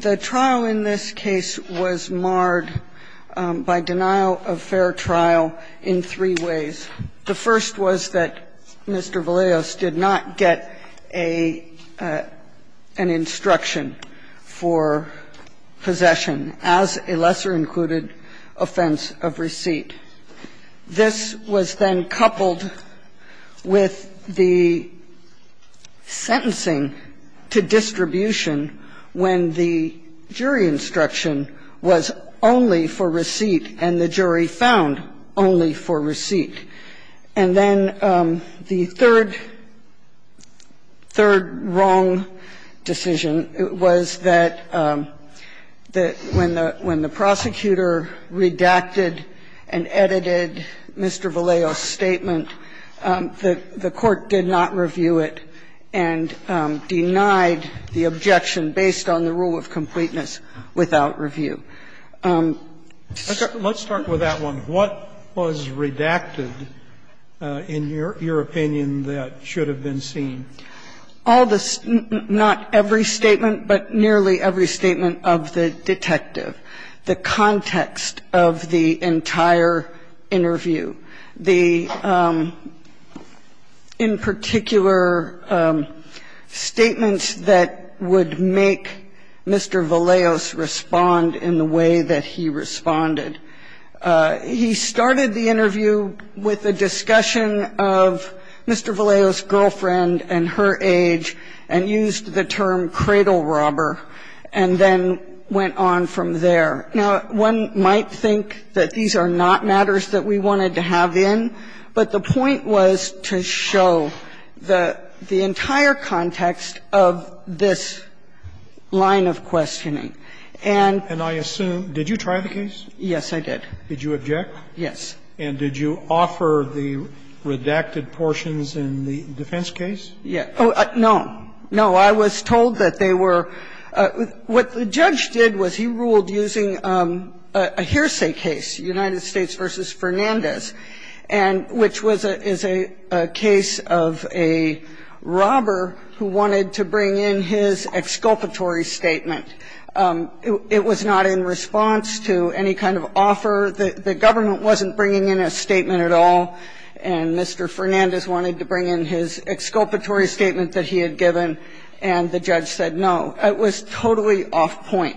The trial in this case was marred by denial of fair trial in three ways. The first was that Mr. Vallejos did not get an instruction for possession as a lesser-included offense of receipt. This was then coupled with the sentencing to distribution when the jury instruction was only for receipt and the jury found only for receipt. And then the third, third wrong decision was that the jury found And the third wrong decision was that when the prosecutor redacted and edited Mr. Vallejos' statement, the Court did not review it and denied the objection based on the rule of completeness without review. Let's start with that one. What was redacted, in your opinion, that should have been seen? All the – not every statement, but nearly every statement of the detective. The context of the entire interview, the – in particular, statements that would make Mr. Vallejos respond in the way that he responded. He started the interview with a discussion of Mr. Vallejos' girlfriend and her age and used the term cradle robber, and then went on from there. Now, one might think that these are not matters that we wanted to have in, but the point was to show the entire context of this line of questioning. And – And I assume – did you try the case? Yes, I did. Did you object? Yes. And did you offer the redacted portions in the defense case? Yes. No. No, I was told that they were – what the judge did was he ruled using a hearsay case, United States v. Fernandez, and which was a case of a robber who wanted to bring in his exculpatory statement. It was not in response to any kind of offer. The government wasn't bringing in a statement at all, and Mr. Fernandez wanted to bring in his exculpatory statement that he had given, and the judge said no. It was totally off point.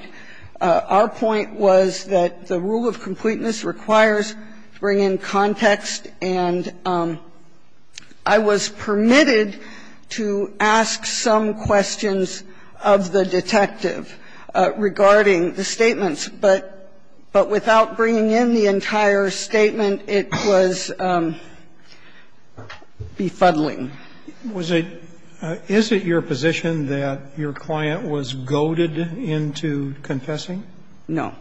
Our point was that the rule of completeness requires to bring in context, and I was permitted to ask some questions of the detective regarding the statements. But without bringing in the entire statement, it was befuddling. Was it – is it your position that your client was goaded into confessing? No.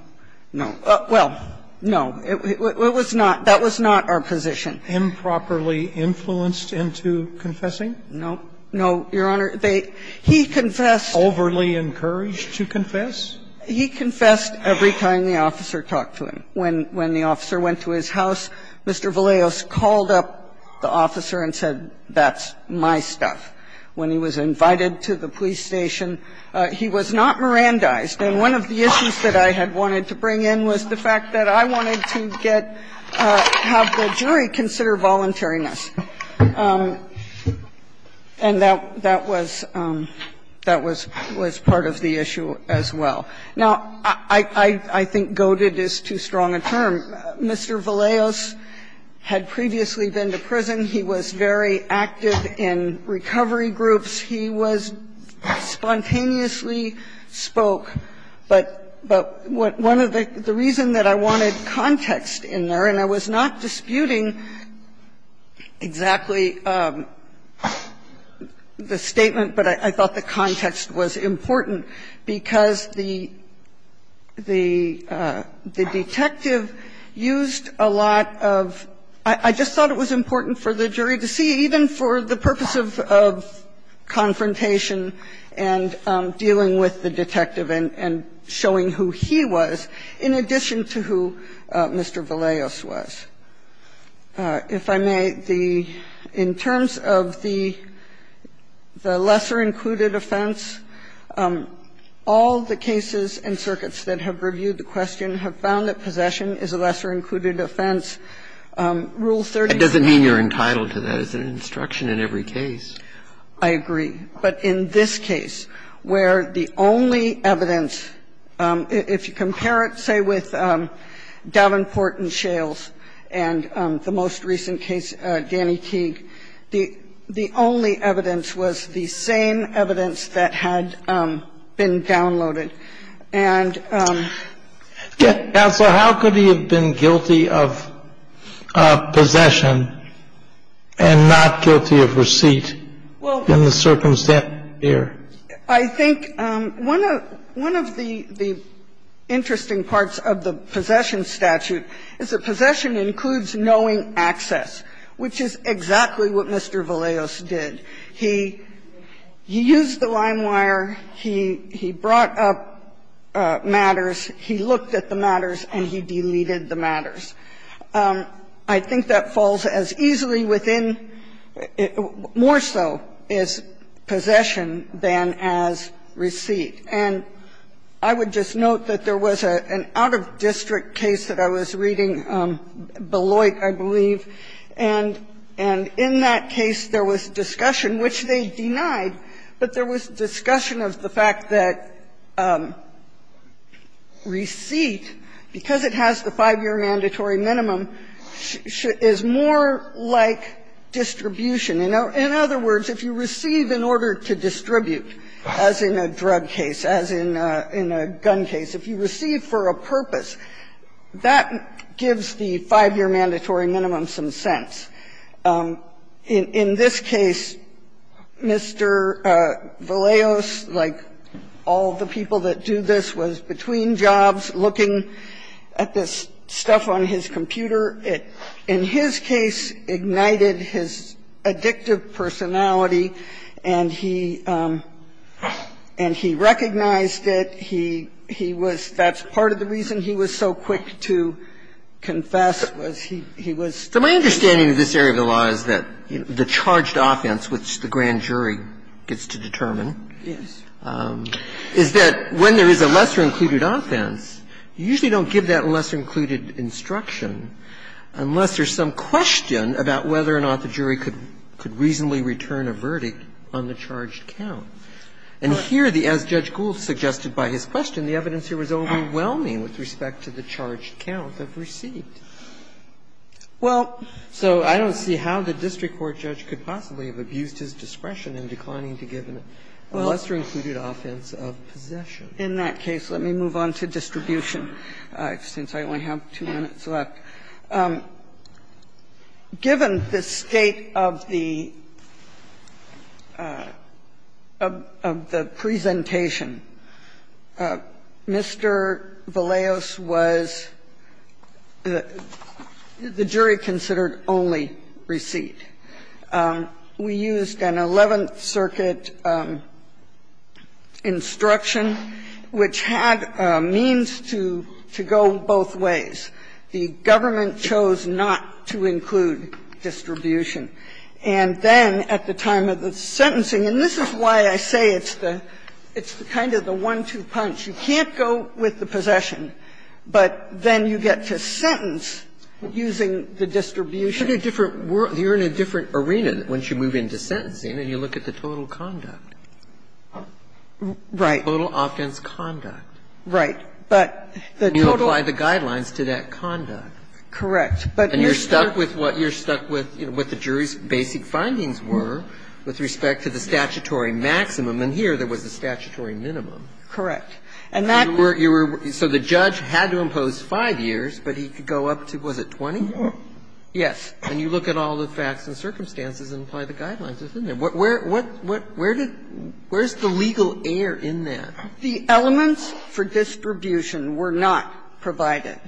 No. Well, no. It was not – that was not our position. Improperly influenced into confessing? No. No, Your Honor. They – he confessed. Overly encouraged to confess? He confessed every time the officer talked to him. When the officer went to his house, Mr. Vallejos called up the officer and said, that's my stuff. When he was invited to the police station, he was not Mirandized. And one of the issues that I had wanted to bring in was the fact that I wanted to get – have the jury consider voluntariness. And that was – that was part of the issue as well. Now, I think goaded is too strong a term. Mr. Vallejos had previously been to prison. He was very active in recovery groups. He was – spontaneously spoke. But one of the – the reason that I wanted context in there, and I was not disputing exactly the statement, but I thought the context was important, because the – the detective used a lot of – I just thought it was important for the jury to see, even for the purpose of confrontation and dealing with the detective and showing who he was, in addition to who Mr. Vallejos was. And so I think the question is, if I may, the – in terms of the lesser included offense, all the cases and circuits that have reviewed the question have found that possession is a lesser included offense. Rule 36. Roberts, Jr. That doesn't mean you're entitled to that. It's an instruction in every case. I agree. But in this case, where the only evidence – if you compare it, say, with Davenport and Shales, and the most recent case, Danny Teague, the only evidence was the same evidence that had been downloaded. And – Counsel, how could he have been guilty of possession and not guilty of receipt in the circumstance there? Well, I think one of – one of the interesting parts of the possession statute is that possession includes knowing access, which is exactly what Mr. Vallejos did. He used the line wire, he brought up matters, he looked at the matters, and he deleted the matters. I think that falls as easily within – more so is possession than as receipt. And I would just note that there was an out-of-district case that I was reading, Beloit, I believe, and in that case there was discussion, which they denied, but there was discussion of the fact that receipt, because it has the 5-year mandatory minimum, is more like distribution. In other words, if you receive in order to distribute, as in a drug case, as in a gun case, if you receive for a purpose, that gives the 5-year mandatory minimum some sense. In this case, Mr. Vallejos, like all the people that do this, was between jobs looking at this stuff on his computer. It, in his case, ignited his addictive personality, and he recognized it. He was – that's part of the reason he was so quick to confess, was he was – So my understanding of this area of the law is that the charged offense, which the grand jury gets to determine, is that when there is a lesser included offense, you usually don't give that lesser included instruction unless there's some question about whether or not the jury could reasonably return a verdict on the charged count. And here, as Judge Gould suggested by his question, the evidence here was overwhelming with respect to the charged count of receipt. Well, so I don't see how the district court judge could possibly have abused his discretion in declining to give a lesser included offense of possession. In that case, let me move on to distribution, since I only have two minutes left. Given the state of the presentation, Mr. Vallejos was the jury-considered only receipt. We used an Eleventh Circuit instruction, which had a means to go both ways. The government chose not to include distribution. And then at the time of the sentencing – and this is why I say it's the – it's kind of the one-two punch. You can't go with the possession, but then you get to sentence using the distribution. And you're in a different arena once you move into sentencing and you look at the total conduct. Right. Total offense conduct. Right. But the total – And you apply the guidelines to that conduct. Correct. And you're stuck with what the jury's basic findings were with respect to the statutory maximum. And here there was a statutory minimum. Correct. And that – So the judge had to impose 5 years, but he could go up to, was it 20? Yes. And you look at all the facts and circumstances and apply the guidelines. Isn't there? Where – where did – where is the legal air in that? The elements for distribution were not provided.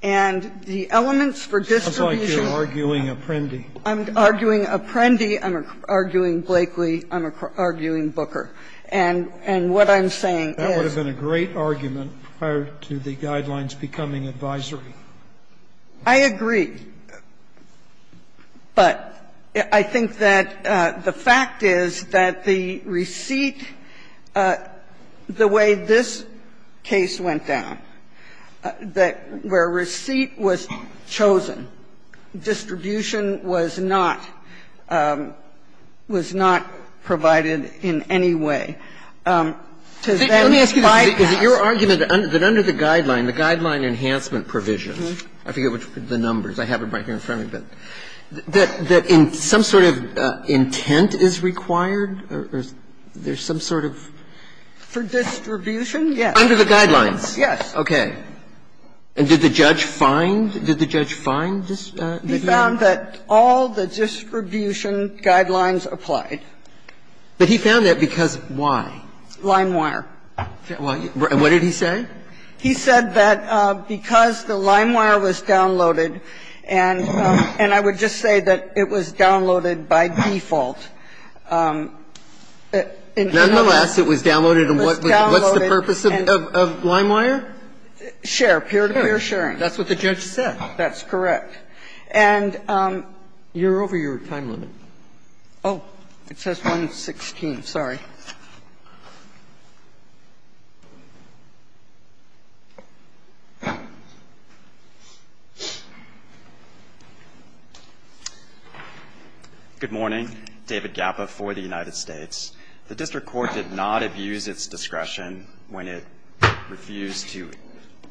And the elements for distribution – It sounds like you're arguing Apprendi. I'm arguing Apprendi. I'm arguing Blakely. I'm arguing Booker. And what I'm saying is – That would have been a great argument prior to the guidelines becoming advisory. I agree. But I think that the fact is that the receipt, the way this case went down, that where receipt was chosen, distribution was not – was not provided in any way. To then bypass – Let me ask you this. Is it your argument that under the guideline, the guideline enhancement provision – I forget the numbers, I have it right here in front of me, but – that in – some sort of intent is required, or there's some sort of – For distribution, yes. Under the guidelines? Yes. Okay. And did the judge find – did the judge find this? He found that all the distribution guidelines applied. But he found that because why? Lime wire. What did he say? He said that because the lime wire was downloaded, and I would just say that it was downloaded by default, in any case – Nonetheless, it was downloaded, and what's the purpose of lime wire? Share, peer-to-peer sharing. That's what the judge said. That's correct. And – You're over your time limit. Oh, it says 1.16, sorry. Good morning. David Gappa for the United States. The district court did not abuse its discretion when it refused to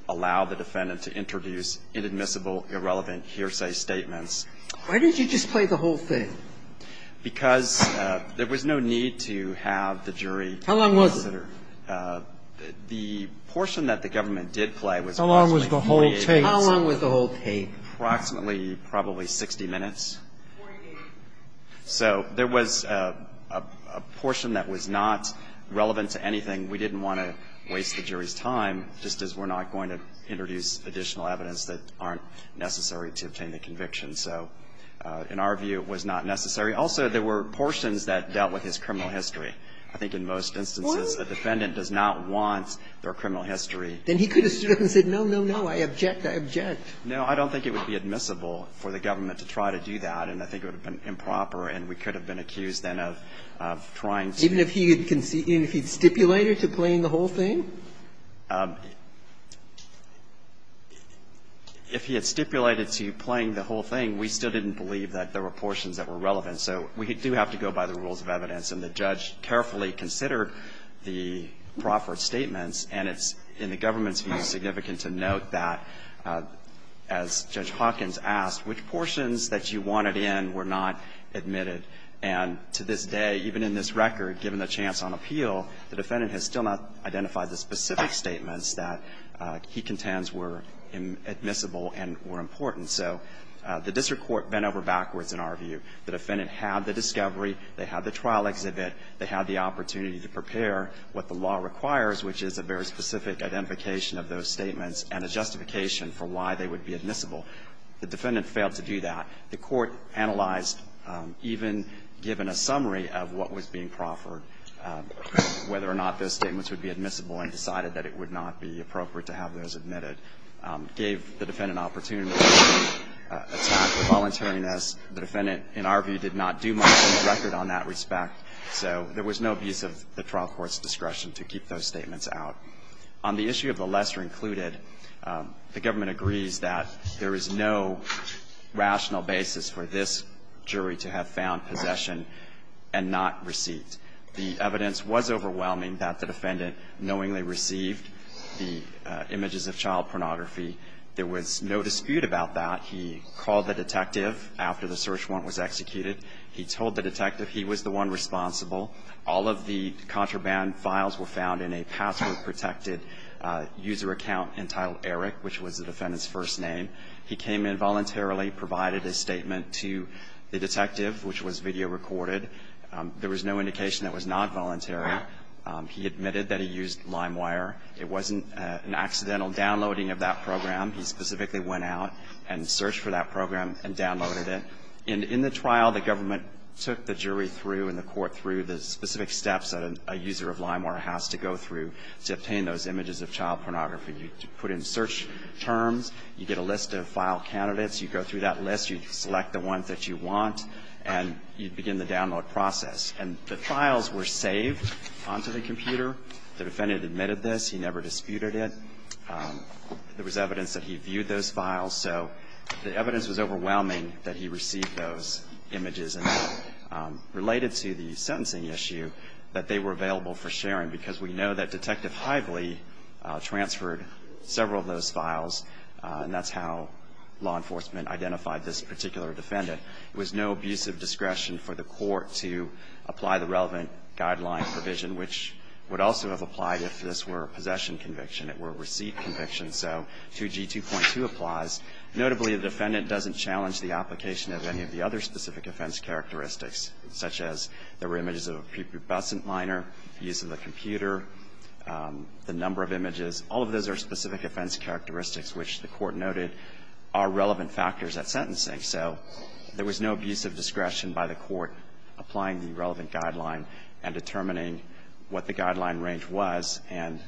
allow the defendant to introduce inadmissible, irrelevant hearsay statements. Why did you just play the whole thing? Because there was no need to have the jury consider. How long was the whole tape? Approximately, probably 60 minutes. So there was a portion that was not relevant to anything. We didn't want to waste the jury's time, just as we're not going to introduce additional evidence that aren't necessary to obtain the conviction. So in our view, it was not necessary. Also, there were portions that dealt with his criminal history. I think in most instances, the defendant does not want their criminal history to be used. Then he could have stood up and said, no, no, no, I object, I object. No, I don't think it would be admissible for the government to try to do that, and I think it would have been improper, and we could have been accused then of trying to do that. Even if he had stipulated to playing the whole thing? If he had stipulated to playing the whole thing, we still didn't believe that there were portions that were relevant. So we do have to go by the rules of evidence, and the judge carefully considered the Crawford statements, and it's, in the government's view, significant to note that, as Judge Hawkins asked, which portions that you wanted in were not admitted, and to this day, even in this record, given the chance on appeal, the defendant has still not identified the specific statements that he contends were admissible and were important. So the district court bent over backwards in our view. The defendant had the discovery, they had the trial exhibit, they had the opportunity to prepare what the law requires, which is a very specific identification of those statements and a justification for why they would be admissible. The defendant failed to do that. The Court analyzed, even given a summary of what was being Crawford, whether or not those statements would be admissible and decided that it would not be appropriate to have those admitted, gave the defendant an opportunity to attack the voluntariness. The defendant, in our view, did not do much on the record on that respect, so there was no abuse of the trial court's discretion to keep those statements out. On the issue of the lesser included, the government agrees that there is no rational basis for this jury to have found possession and not received. The evidence was overwhelming that the defendant knowingly received the images of child pornography. There was no dispute about that. He called the detective after the search warrant was executed. He told the detective he was the one responsible. All of the contraband files were found in a password-protected user account entitled Eric, which was the defendant's first name. He came in voluntarily, provided his statement to the detective, which was video recorded. There was no indication it was not voluntary. He admitted that he used LimeWire. It wasn't an accidental downloading of that program. He specifically went out and searched for that program and downloaded it. In the trial, the government took the jury through and the court through the specific steps that a user of LimeWire has to go through to obtain those images of child pornography. You put in search terms. You get a list of file candidates. You go through that list. You select the ones that you want, and you begin the download process. And the files were saved onto the computer. The defendant admitted this. He never disputed it. There was evidence that he viewed those files. So the evidence was overwhelming that he received those images and related to the sentencing issue that they were available for sharing because we know that Detective Hively transferred several of those files, and that's how law enforcement identified this particular defendant. It was no abusive discretion for the court to apply the relevant guideline provision, which would also have applied if this were a possession conviction. It were a receipt conviction. So 2G2.2 applies. Notably, the defendant doesn't challenge the application of any of the other specific offense characteristics, such as there were images of a prepubescent minor, use of the computer, the number of images. All of those are specific offense characteristics, which the court noted are relevant factors at sentencing. So there was no abusive discretion by the court applying the relevant guideline and determining what the guideline range was. And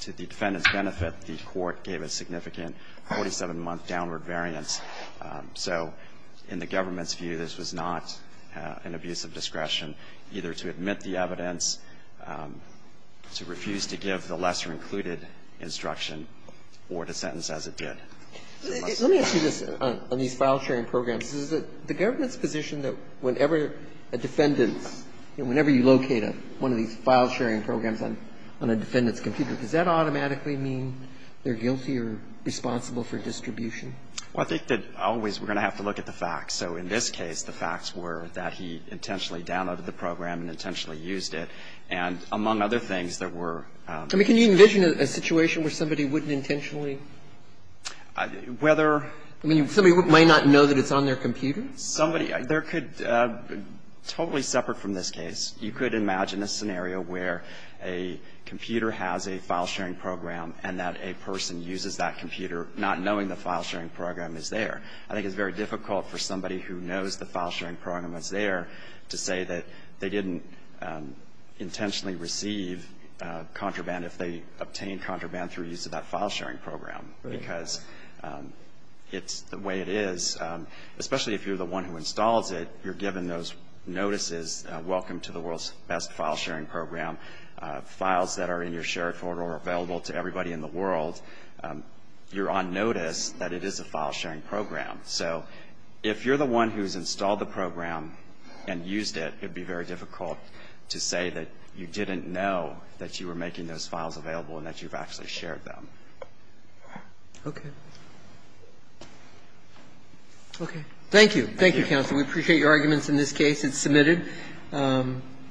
to the defendant's benefit, the court gave a significant 47-month downward variance. So in the government's view, this was not an abusive discretion either to admit the defendant's misdemeanor or to refuse to give the lesser-included instruction or to sentence as it did. Let me ask you this on these file-sharing programs. Is it the government's position that whenever a defendant's, you know, whenever you locate one of these file-sharing programs on a defendant's computer, does that automatically mean they're guilty or responsible for distribution? Well, I think that always we're going to have to look at the facts. So in this case, the facts were that he intentionally downloaded the program and intentionally used it. And among other things, there were other things. I mean, can you envision a situation where somebody wouldn't intentionally Whether you're going to do that. Somebody might not know that it's on their computer? Somebody – there could – totally separate from this case. You could imagine a scenario where a computer has a file-sharing program and that a person uses that computer not knowing the file-sharing program is there. I think it's very difficult for somebody who knows the file-sharing program is there to say that they didn't intentionally receive contraband if they obtained contraband through use of that file-sharing program. Because it's – the way it is, especially if you're the one who installs it, you're given those notices, welcome to the world's best file-sharing program. Files that are in your shared folder are available to everybody in the world. You're on notice that it is a file-sharing program. So if you're the one who's installed the program and used it, it would be very difficult to say that you didn't know that you were making those files available and that you've actually shared them. Okay. Okay. Thank you. Thank you, counsel. We appreciate your arguments in this case. It's submitted.